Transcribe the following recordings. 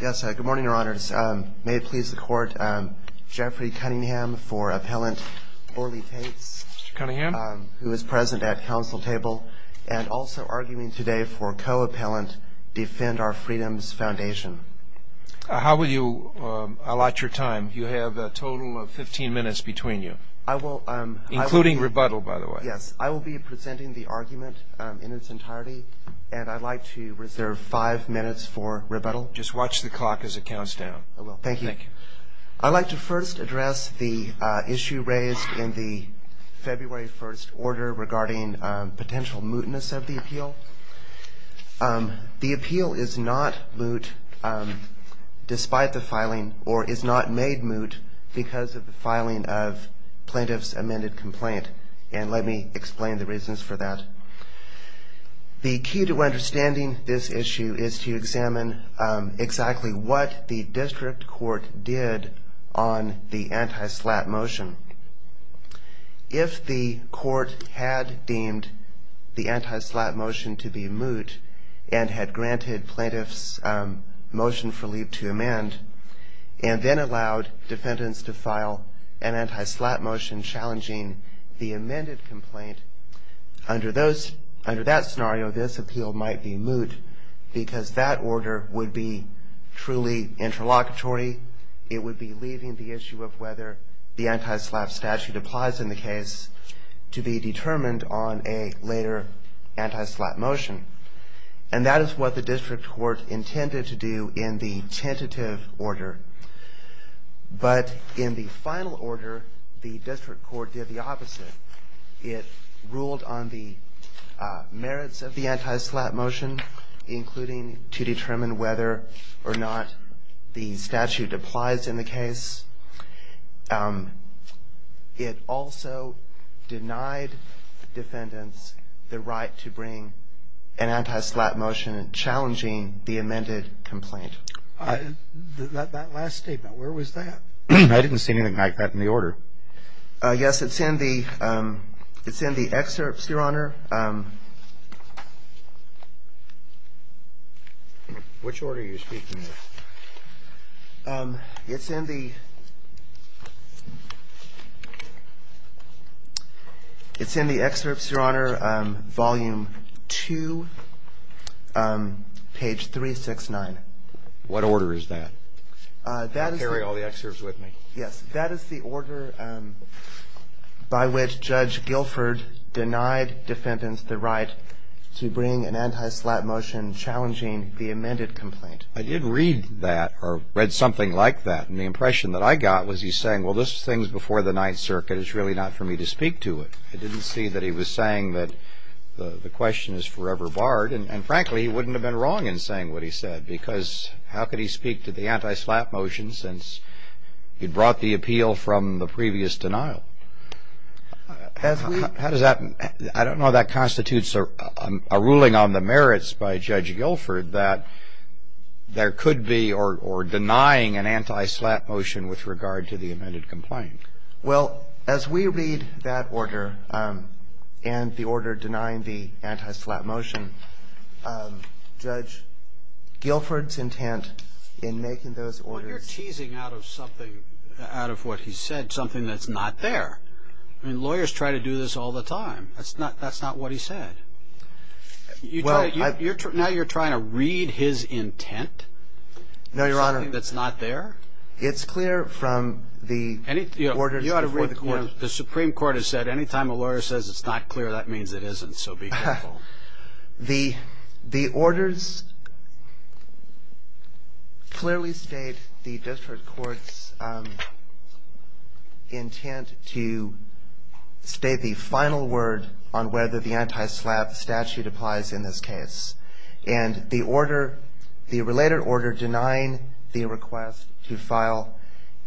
Good morning, Your Honors. May it please the Court, Jeffrey Cunningham for Appellant Orly Tate, who is present at Council Table, and also arguing today for co-appellant, Defend Our Freedoms Foundation. How will you allot your time? You have a total of 15 minutes between you, including rebuttal, by the way. Yes, I will be presenting the argument in its entirety, and I'd like to reserve five minutes for rebuttal. Just watch the clock as it counts down. I will. Thank you. Thank you. I'd like to first address the issue raised in the February 1st order regarding potential mootness of the appeal. The appeal is not moot, despite the filing, or is not made moot because of the filing of plaintiff's amended complaint, and let me explain the reasons for that. The key to understanding this issue is to examine exactly what the district court did on the anti-slap motion. If the court had deemed the anti-slap motion to be moot, and had granted plaintiff's motion for leave to amend, and then allowed defendants to file an anti-slap motion challenging the amended complaint, under that scenario, this appeal might be moot because that order would be truly interlocutory. It would be leaving the issue of whether the anti-slap statute applies in the case to be determined on a later anti-slap motion, and that is what the district court intended to do in the tentative order, but in the final order, the district court did the opposite. It ruled on the merits of the anti-slap motion, including to determine whether or not the statute applies in the case. It also denied defendants the right to bring an anti-slap motion challenging the amended complaint. That last statement, where was that? I didn't see anything like that in the order. Yes, it's in the excerpts, Your Honor. Which order are you speaking of? It's in the excerpts, Your Honor, volume 2, page 369. What order is that? Carry all the excerpts with me. Yes, that is the order by which Judge Guilford denied defendants the right to bring an anti-slap motion challenging the amended complaint. I did read that or read something like that, and the impression that I got was he's saying, well, this thing's before the Ninth Circuit, it's really not for me to speak to it. I didn't see that he was saying that the question is forever barred, and frankly, he wouldn't have been wrong in saying what he said, because how could he speak to the anti-slap motion since he brought the appeal from the previous denial? How does that – I don't know how that constitutes a ruling on the merits by Judge Guilford that there could be or denying an anti-slap motion with regard to the amended complaint. Well, as we read that order and the order denying the anti-slap motion, Judge Guilford's intent in making those orders – You're teasing out of something, out of what he said, something that's not there. I mean, lawyers try to do this all the time. That's not what he said. Now you're trying to read his intent? No, Your Honor. Something that's not there? It's clear from the orders before the court. You ought to read the Supreme Court has said any time a lawyer says it's not clear, that means it isn't, so be careful. The orders clearly state the district court's intent to state the final word on whether the anti-slap statute applies in this case. And the order – the related order denying the request to file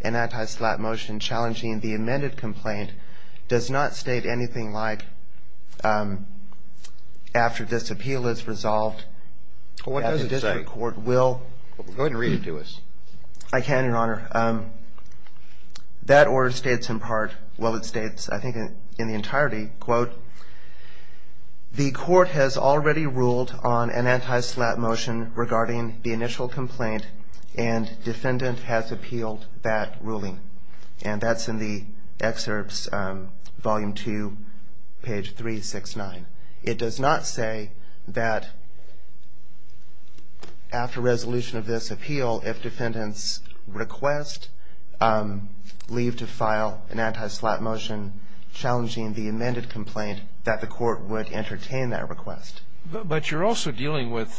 an anti-slap motion challenging the amended complaint does not state anything like, after this appeal is resolved – What does it say? Go ahead and read it to us. I can, Your Honor. That order states in part – well, it states, I think, in the entirety, quote, the court has already ruled on an anti-slap motion regarding the initial complaint and defendant has appealed that ruling. And that's in the excerpts, volume 2, page 369. It does not say that after resolution of this appeal, if defendants request leave to file an anti-slap motion challenging the amended complaint, that the court would entertain that request. But you're also dealing with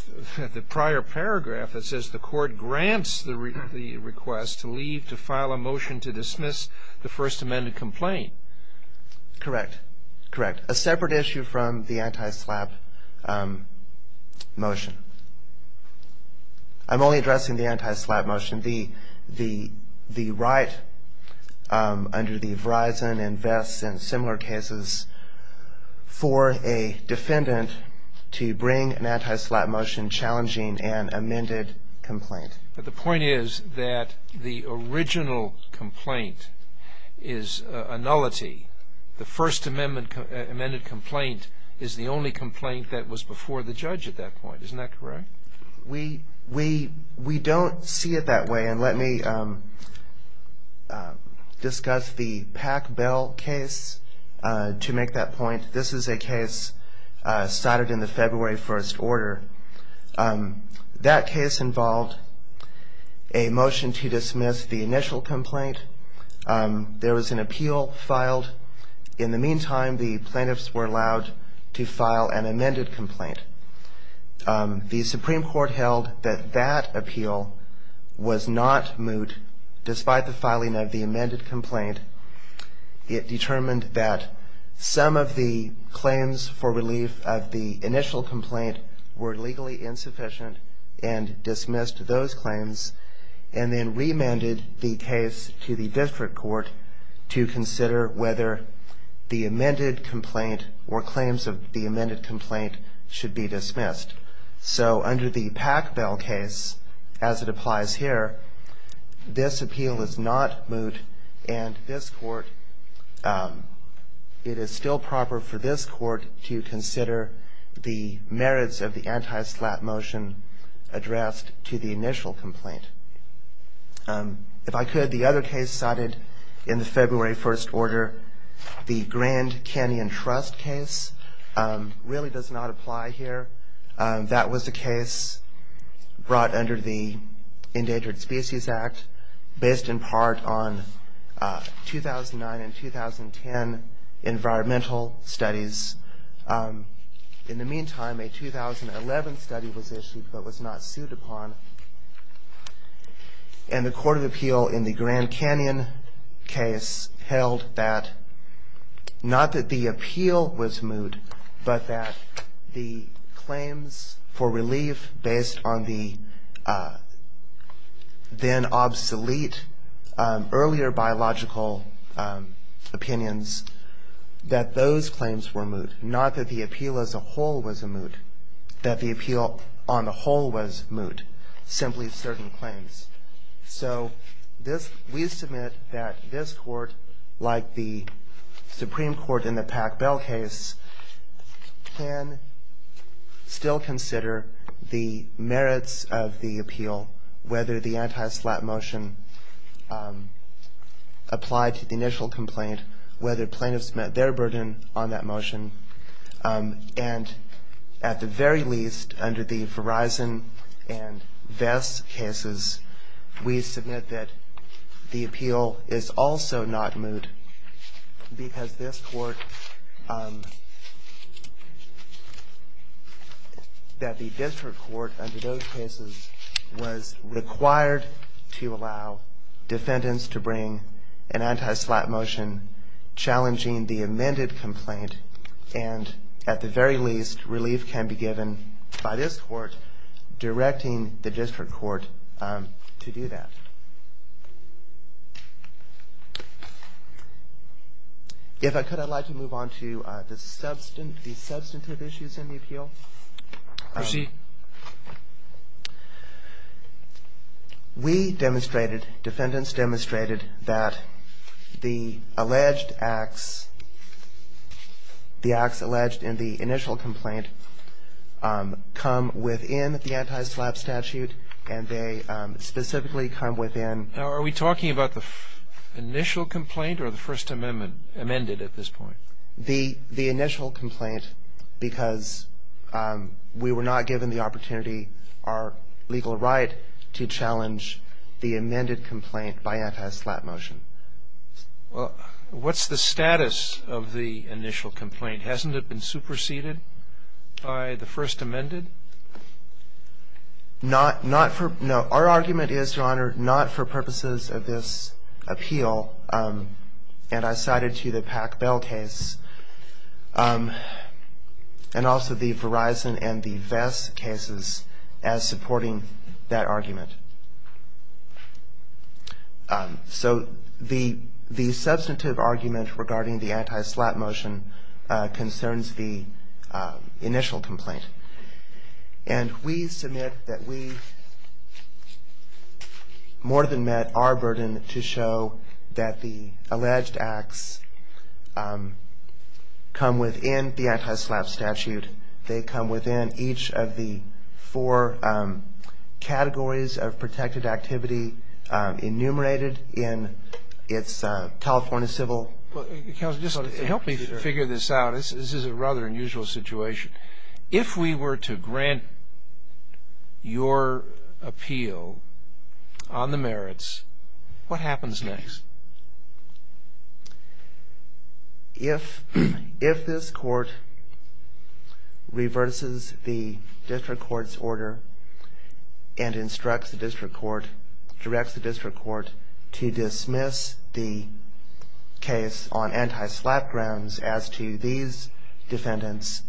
the prior paragraph that says the court grants the request to leave to file a motion to dismiss the first amended complaint. Correct. Correct. A separate issue from the anti-slap motion. I'm only addressing the anti-slap motion. The right under the Verizon and Vest and similar cases for a defendant to bring an anti-slap motion challenging an amended complaint. But the point is that the original complaint is a nullity. The first amended complaint is the only complaint that was before the judge at that point. Isn't that correct? We don't see it that way. And let me discuss the Pack Bell case to make that point. That case involved a motion to dismiss the initial complaint. There was an appeal filed. In the meantime, the plaintiffs were allowed to file an amended complaint. The Supreme Court held that that appeal was not moot despite the filing of the amended complaint. It determined that some of the claims for relief of the initial complaint were legally insufficient and dismissed those claims. And then remanded the case to the district court to consider whether the amended complaint or claims of the amended complaint should be dismissed. So under the Pack Bell case, as it applies here, this appeal is not moot. And this court, it is still proper for this court to consider the merits of the anti-slap motion addressed to the initial complaint. If I could, the other case cited in the February 1st order, the Grand Canyon Trust case, really does not apply here. That was the case brought under the Endangered Species Act based in part on 2009 and 2010 environmental studies. In the meantime, a 2011 study was issued but was not sued upon. And the Court of Appeal in the Grand Canyon case held that not that the appeal was moot, but that the claims for relief based on the then obsolete earlier biological opinions, that those claims were moot. Not that the appeal as a whole was moot, that the appeal on the whole was moot, simply certain claims. So we submit that this court, like the Supreme Court in the Pack Bell case, can still consider the merits of the appeal, whether the anti-slap motion applied to the initial complaint, whether plaintiffs met their burden on that motion. And at the very least, under the Verizon and Vest cases, we submit that the appeal is also not moot because this court, that the district court under those cases, was required to allow defendants to bring an anti-slap motion challenging the amended complaint. And at the very least, relief can be given by this court directing the district court to do that. If I could, I'd like to move on to the substantive issues in the appeal. Proceed. We demonstrated, defendants demonstrated, that the alleged acts, the acts alleged in the initial complaint, come within the anti-slap statute, and they specifically come within Now, are we talking about the initial complaint or the First Amendment amended at this point? The initial complaint, because we were not given the opportunity, our legal right, to challenge the amended complaint by anti-slap motion. Well, what's the status of the initial complaint? Hasn't it been superseded by the First Amendment? Not, not for, no. Our argument is, Your Honor, not for purposes of this appeal, and I cited to you the Pack Bell case, and also the Verizon and the Vest cases as supporting that argument. So the, the substantive argument regarding the anti-slap motion concerns the initial complaint. And we submit that we more than met our burden to show that the alleged acts come within the anti-slap statute. They come within each of the four categories of protected activity enumerated in its California Civil Counsel, just help me figure this out. This is a rather unusual situation. If we were to grant your appeal on the merits, what happens next? If, if this court reverses the district court's order and instructs the district court, directs the district court to dismiss the case on anti-slap grounds as to these defendants,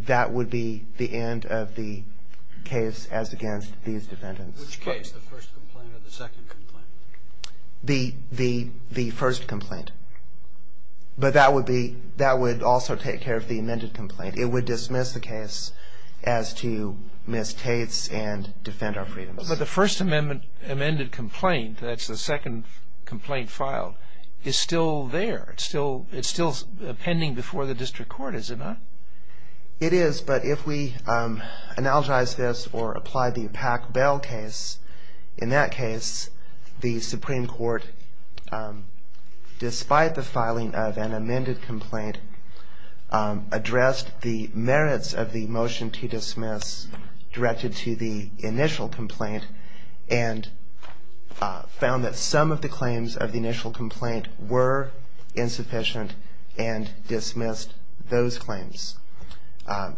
that would be the end of the case as against these defendants. Which case, the first complaint or the second complaint? The, the, the first complaint. But that would be, that would also take care of the amended complaint. It would dismiss the case as to Ms. Tate's and defend our freedoms. But the first amendment, amended complaint, that's the second complaint filed, is still there. It's still, it's still pending before the district court, is it not? It is. But if we analogize this or apply the Pack Bell case, in that case, the Supreme Court, despite the filing of an amended complaint, addressed the merits of the motion to dismiss directed to the initial complaint and found that some of the claims of the initial complaint were insufficient and dismissed those claims.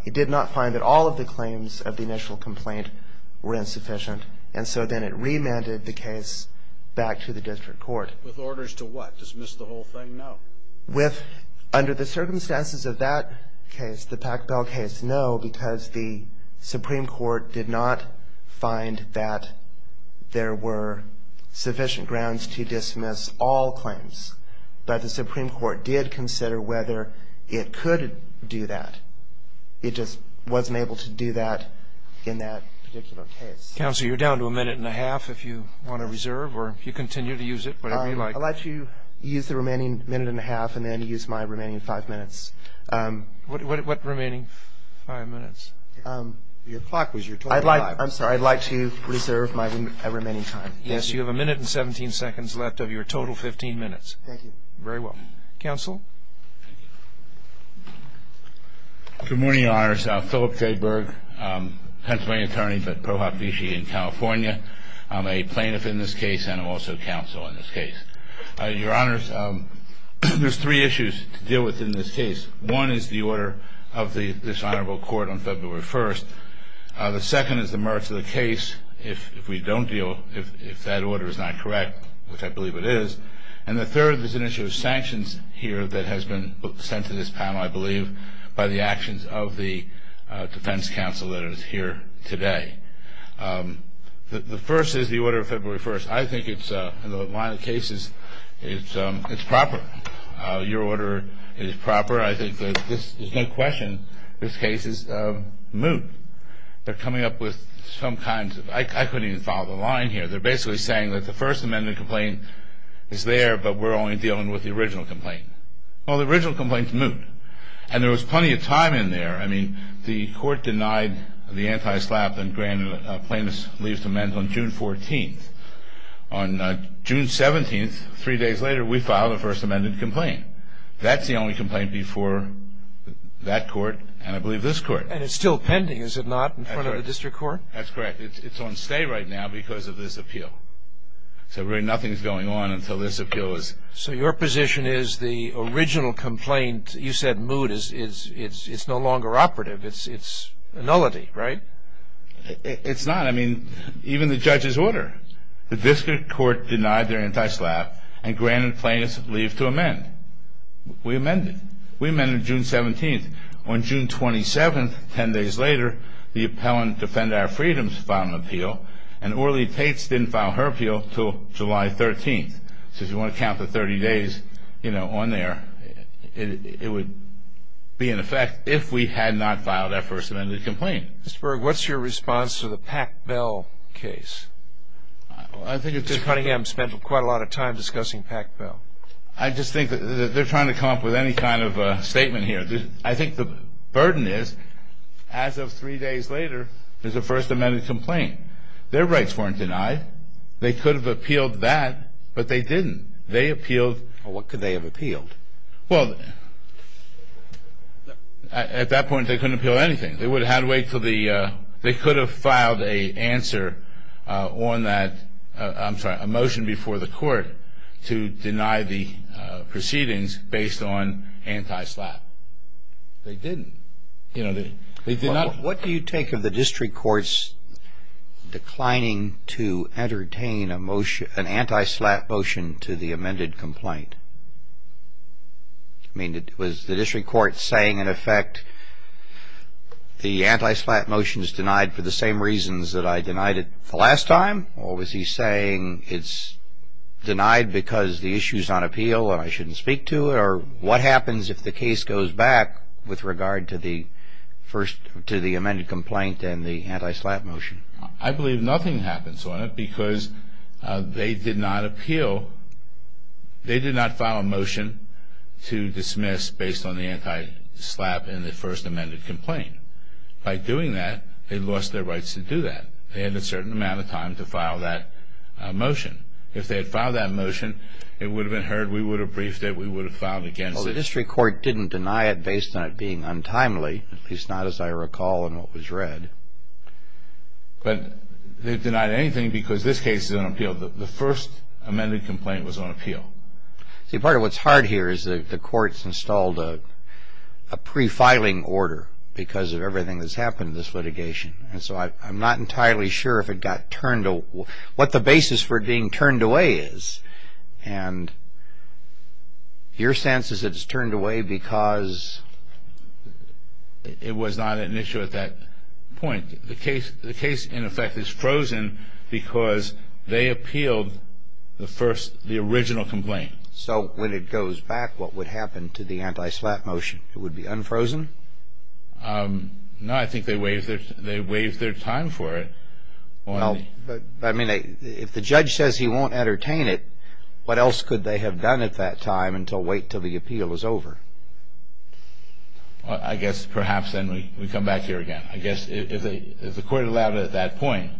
It did not find that all of the claims of the initial complaint were insufficient. And so then it remanded the case back to the district court. With orders to what? Dismiss the whole thing? No. With, under the circumstances of that case, the Pack Bell case, no, because the Supreme Court did not find that there were sufficient grounds to dismiss all claims. But the Supreme Court did consider whether it could do that. It just wasn't able to do that in that particular case. Counsel, you're down to a minute and a half if you want to reserve or if you continue to use it, whatever you like. I'll let you use the remaining minute and a half and then use my remaining five minutes. What remaining five minutes? Your clock was your total time. I'd like, I'm sorry, I'd like to reserve my remaining time. Yes, you have a minute and 17 seconds left of your total 15 minutes. Thank you. Very well. Counsel? Good morning, Your Honors. Philip J. Berg, Pennsylvania attorney at ProHop Vichy in California. I'm a plaintiff in this case and I'm also counsel in this case. Your Honors, there's three issues to deal with in this case. One is the order of this honorable court on February 1st. The second is the merits of the case if we don't deal, if that order is not correct, which I believe it is. And the third is an issue of sanctions here that has been sent to this panel, I believe, by the actions of the defense counsel that is here today. The first is the order of February 1st. I think it's, in the line of cases, it's proper. Your order is proper. I think there's no question this case is moot. They're coming up with some kind of, I couldn't even follow the line here. They're basically saying that the First Amendment complaint is there, but we're only dealing with the original complaint. Well, the original complaint's moot. And there was plenty of time in there. I mean, the court denied the anti-SLAPP and granted a plaintiff's leave to amend on June 14th. On June 17th, three days later, we filed a First Amendment complaint. That's the only complaint before that court and, I believe, this court. And it's still pending, is it not, in front of the district court? That's correct. It's on stay right now because of this appeal. So, really, nothing's going on until this appeal is. So your position is the original complaint, you said moot, it's no longer operative. It's a nullity, right? It's not. I mean, even the judge's order. The district court denied their anti-SLAPP and granted plaintiff's leave to amend. We amended. We amended June 17th. On June 27th, 10 days later, the appellant, Defend Our Freedoms, filed an appeal, and Orlie Tates didn't file her appeal until July 13th. So if you want to count the 30 days, you know, on there, it would be in effect if we had not filed that First Amendment complaint. Mr. Berg, what's your response to the Pack Bell case? It's funny, I've spent quite a lot of time discussing Pack Bell. I just think that they're trying to come up with any kind of statement here. I think the burden is, as of three days later, there's a First Amendment complaint. Their rights weren't denied. They could have appealed that, but they didn't. They appealed. Well, what could they have appealed? Well, at that point, they couldn't appeal anything. They would have had to wait until the they could have filed a answer on that, I'm sorry, a motion before the court to deny the proceedings based on anti-SLAPP. They didn't. You know, they did not. What do you take of the district court's declining to entertain a motion, an anti-SLAPP motion to the amended complaint? I mean, was the district court saying, in effect, the anti-SLAPP motion is denied for the same reasons that I denied it the last time? Or was he saying it's denied because the issue's on appeal and I shouldn't speak to it? Or what happens if the case goes back with regard to the amended complaint and the anti-SLAPP motion? I believe nothing happens on it because they did not appeal. They did not file a motion to dismiss based on the anti-SLAPP in the first amended complaint. By doing that, they lost their rights to do that. They had a certain amount of time to file that motion. If they had filed that motion, it would have been heard. We would have briefed it. We would have filed against it. Well, the district court didn't deny it based on it being untimely, at least not as I recall in what was read. But they denied anything because this case is on appeal. The first amended complaint was on appeal. See, part of what's hard here is the court's installed a pre-filing order because of everything that's happened in this litigation. And so I'm not entirely sure what the basis for being turned away is. And your sense is it's turned away because it was not an issue at that point. The case, in effect, is frozen because they appealed the first, the original complaint. So when it goes back, what would happen to the anti-SLAPP motion? It would be unfrozen? No, I think they waived their time for it. Well, I mean, if the judge says he won't entertain it, what else could they have done at that time until wait until the appeal is over? I guess perhaps then we come back here again. I guess if the court allowed it at that point,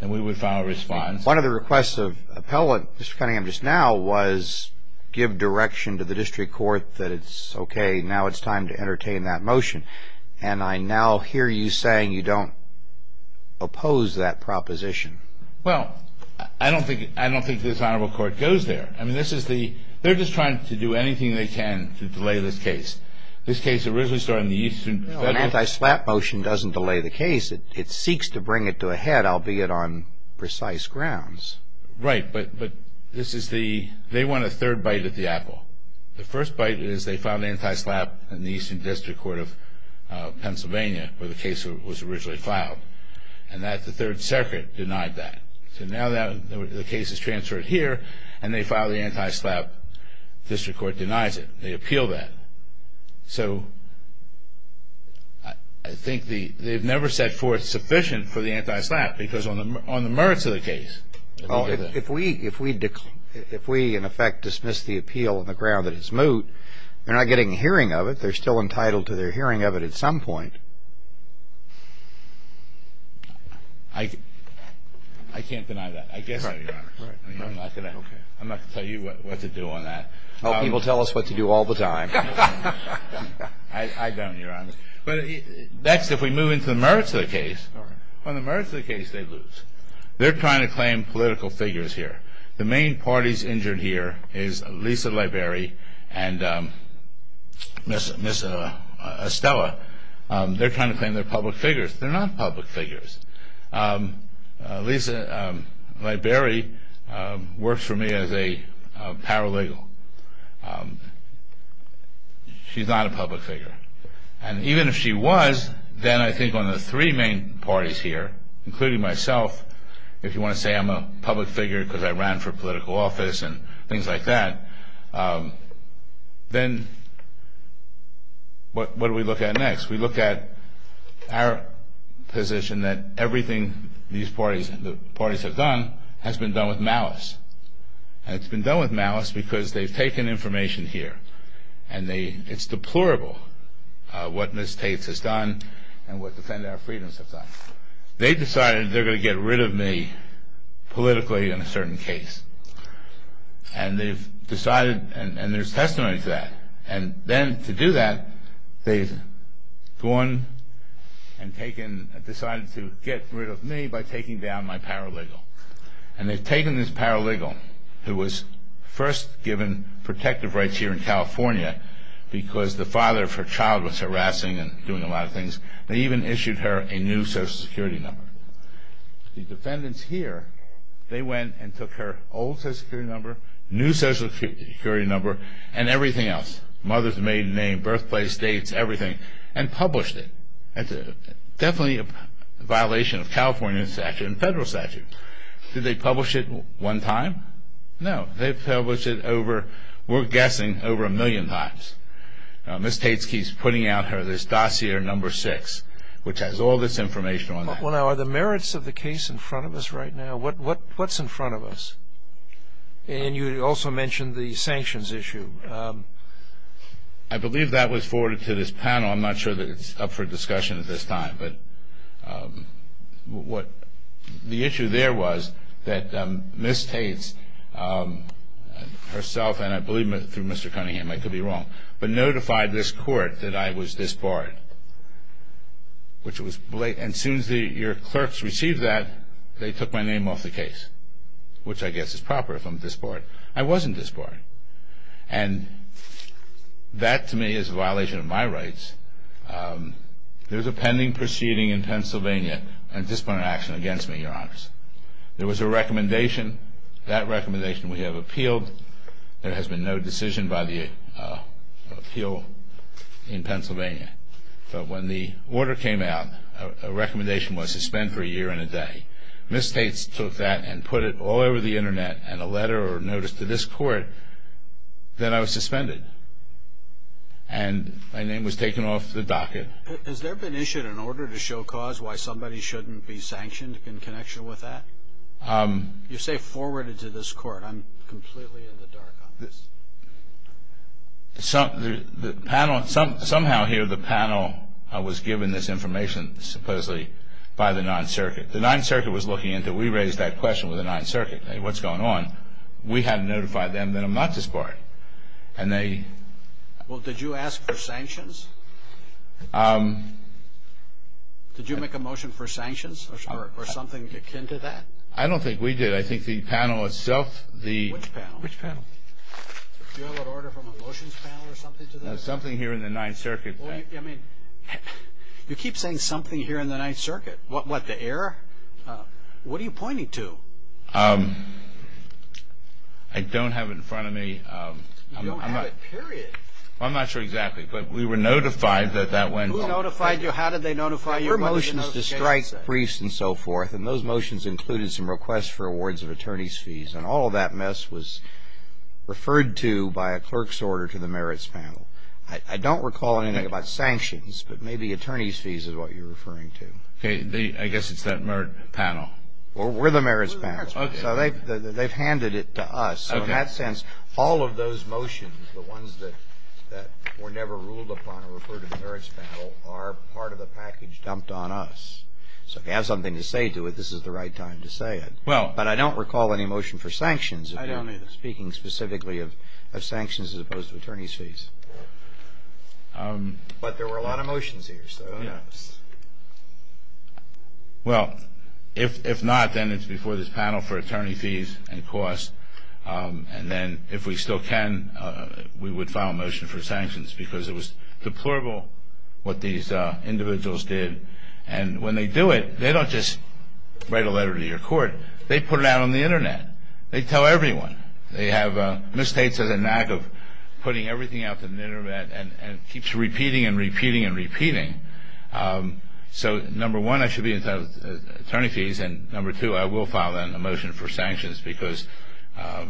then we would file a response. One of the requests of the appellant, Mr. Cunningham, just now, was give direction to the district court that it's okay, now it's time to entertain that motion. And I now hear you saying you don't oppose that proposition. Well, I don't think this honorable court goes there. I mean, this is the, they're just trying to do anything they can to delay this case. No, an anti-SLAPP motion doesn't delay the case. It seeks to bring it to a head, albeit on precise grounds. Right, but this is the, they want a third bite at the apple. The first bite is they file an anti-SLAPP in the Eastern District Court of Pennsylvania, where the case was originally filed. And that's the Third Circuit denied that. So now the case is transferred here, and they file the anti-SLAPP. District Court denies it. They appeal that. So I think they've never set forth sufficient for the anti-SLAPP, because on the merits of the case. If we, in effect, dismiss the appeal on the ground that it's moot, they're not getting a hearing of it. They're still entitled to their hearing of it at some point. I can't deny that. I guess I can, Your Honor. I'm not going to tell you what to do on that. Well, people tell us what to do all the time. I don't, Your Honor. Next, if we move into the merits of the case. On the merits of the case, they lose. They're trying to claim political figures here. The main parties injured here is Lisa Liberi and Miss Estella. They're trying to claim they're public figures. They're not public figures. Lisa Liberi works for me as a paralegal. She's not a public figure. And even if she was, then I think on the three main parties here, including myself, if you want to say I'm a public figure because I ran for political office and things like that, then what do we look at next? We look at our position that everything these parties have done has been done with malice. And it's been done with malice because they've taken information here. And it's deplorable what Miss Tates has done and what Defend Our Freedoms have done. They decided they're going to get rid of me politically in a certain case. And they've decided, and there's testimony to that. And then to do that, they've gone and decided to get rid of me by taking down my paralegal. And they've taken this paralegal who was first given protective rights here in California because the father of her child was harassing and doing a lot of things. They even issued her a new Social Security number. The defendants here, they went and took her old Social Security number, new Social Security number, and everything else. Mother's maiden name, birthplace, dates, everything, and published it. That's definitely a violation of California statute and federal statute. Did they publish it one time? No. They've published it over, we're guessing, over a million times. Miss Tates keeps putting out her dossier number six, which has all this information on it. Well, now, are the merits of the case in front of us right now? What's in front of us? And you also mentioned the sanctions issue. I believe that was forwarded to this panel. I'm not sure that it's up for discussion at this time. But the issue there was that Miss Tates herself, and I believe through Mr. Cunningham, I could be wrong, but notified this court that I was disbarred, which was blatant. And as soon as your clerks received that, they took my name off the case, which I guess is proper if I'm disbarred. I wasn't disbarred. And that, to me, is a violation of my rights. There's a pending proceeding in Pennsylvania on disciplinary action against me, Your Honors. There was a recommendation. That recommendation we have appealed. There has been no decision by the appeal in Pennsylvania. But when the order came out, a recommendation was to spend for a year and a day. Miss Tates took that and put it all over the Internet and a letter or notice to this court. Then I was suspended. And my name was taken off the docket. Has there been issued an order to show cause why somebody shouldn't be sanctioned in connection with that? You say forwarded to this court. I'm completely in the dark on this. Somehow here the panel was given this information, supposedly, by the Ninth Circuit. The Ninth Circuit was looking into it. We raised that question with the Ninth Circuit. What's going on? We hadn't notified them that I'm not disbarred. Well, did you ask for sanctions? Did you make a motion for sanctions or something akin to that? I don't think we did. I think the panel itself, the – Do you have an order from a motions panel or something to that? No, something here in the Ninth Circuit. I mean, you keep saying something here in the Ninth Circuit. What, the error? What are you pointing to? I don't have it in front of me. You don't have it, period. I'm not sure exactly, but we were notified that that went wrong. Who notified you? How did they notify you? There were motions to strike briefs and so forth. And those motions included some requests for awards of attorney's fees. And all of that mess was referred to by a clerk's order to the merits panel. I don't recall anything about sanctions, but maybe attorney's fees is what you're referring to. Okay. I guess it's that merit panel. Well, we're the merits panel. So they've handed it to us. So in that sense, all of those motions, the ones that were never ruled upon or referred to the merits panel, are part of the package dumped on us. So if you have something to say to it, this is the right time to say it. But I don't recall any motion for sanctions. I don't either. Speaking specifically of sanctions as opposed to attorney's fees. But there were a lot of motions here. Well, if not, then it's before this panel for attorney fees and costs. And then if we still can, we would file a motion for sanctions because it was deplorable what these individuals did. And when they do it, they don't just write a letter to your court. They put it out on the Internet. They tell everyone. They have mistakes as a knack of putting everything out on the Internet and it keeps repeating and repeating and repeating. So, number one, I should be entitled to attorney fees, and number two, I will file a motion for sanctions because that's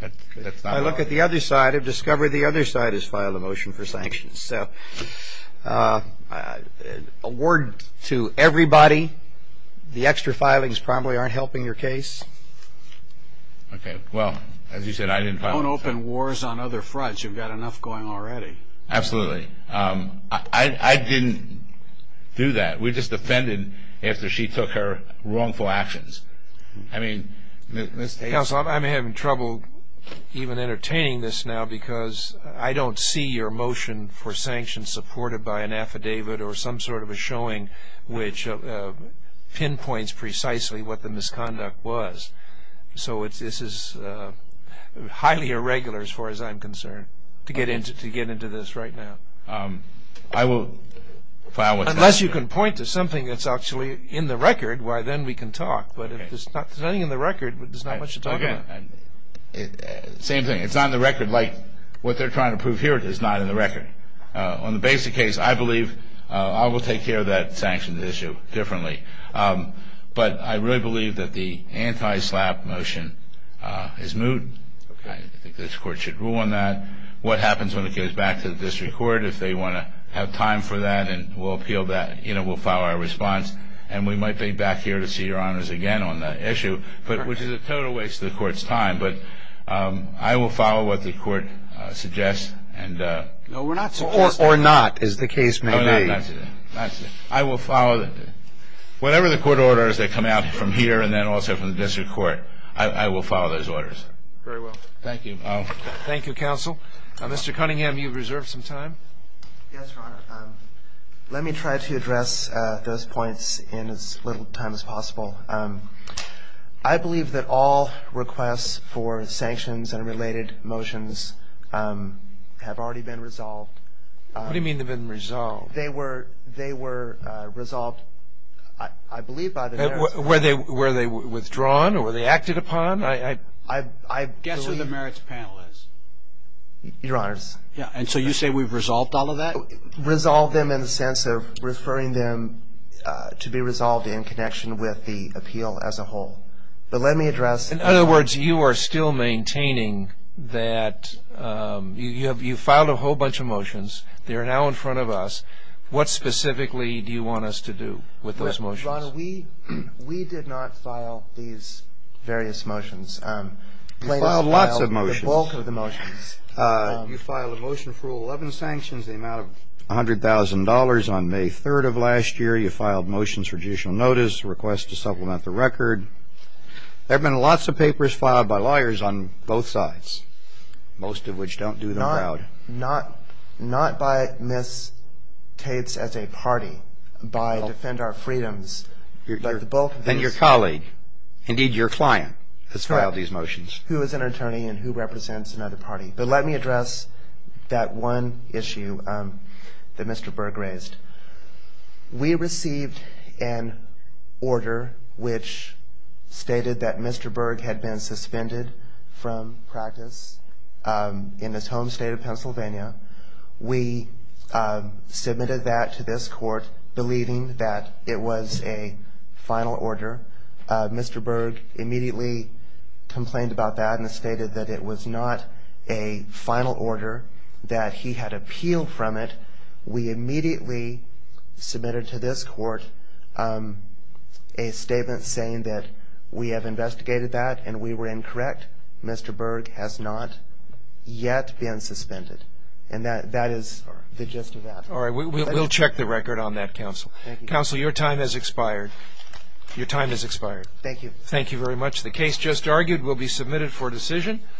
not what I want. I look at the other side. I've discovered the other side has filed a motion for sanctions. So, a word to everybody. The extra filings probably aren't helping your case. Okay. Well, as you said, I didn't file a motion. Don't open wars on other fronts. You've got enough going already. Absolutely. I didn't do that. I mean, Ms. Tate. Counsel, I'm having trouble even entertaining this now because I don't see your motion for sanctions supported by an affidavit or some sort of a showing which pinpoints precisely what the misconduct was. So, this is highly irregular as far as I'm concerned to get into this right now. I will file what's happening. Unless you can point to something that's actually in the record, then we can talk. But if there's nothing in the record, there's not much to talk about. Same thing. It's not in the record like what they're trying to prove here is not in the record. On the basic case, I believe I will take care of that sanctions issue differently. But I really believe that the anti-SLAPP motion is moot. I think this court should rule on that. What happens when it goes back to the district court, if they want to have time for that and we'll appeal that, we'll file our response. And we might be back here to see Your Honors again on that issue, which is a total waste of the court's time. But I will follow what the court suggests. No, we're not supporting that. Or not, as the case may be. No, no, not today. Not today. I will follow whatever the court orders that come out from here and then also from the district court. I will follow those orders. Very well. Thank you. Thank you, Counsel. Mr. Cunningham, you've reserved some time. Yes, Your Honor. Let me try to address those points in as little time as possible. I believe that all requests for sanctions and related motions have already been resolved. What do you mean they've been resolved? They were resolved, I believe, by the merits panel. Were they withdrawn or were they acted upon? Guess who the merits panel is. Your Honors. And so you say we've resolved all of that? Resolved them in the sense of referring them to be resolved in connection with the appeal as a whole. But let me address. In other words, you are still maintaining that you filed a whole bunch of motions. They are now in front of us. What specifically do you want us to do with those motions? Your Honor, we did not file these various motions. You filed lots of motions. You filed the bulk of the motions. You filed a motion for 11 sanctions, the amount of $100,000 on May 3rd of last year. You filed motions for judicial notice, request to supplement the record. There have been lots of papers filed by lawyers on both sides, most of which don't do them well. Not by Ms. Tate's as a party, by Defend Our Freedoms, but the bulk of these. Then your colleague, indeed your client, has filed these motions. Who is an attorney and who represents another party? But let me address that one issue that Mr. Berg raised. We received an order which stated that Mr. Berg had been suspended from practice in his home state of Pennsylvania. We submitted that to this court, believing that it was a final order. Mr. Berg immediately complained about that and stated that it was not a final order, that he had appealed from it. We immediately submitted to this court a statement saying that we have investigated that and we were incorrect. Mr. Berg has not yet been suspended. And that is the gist of that. All right. We'll check the record on that, Counsel. Counsel, your time has expired. Your time has expired. Thank you. Thank you very much. The case just argued will be submitted for decision.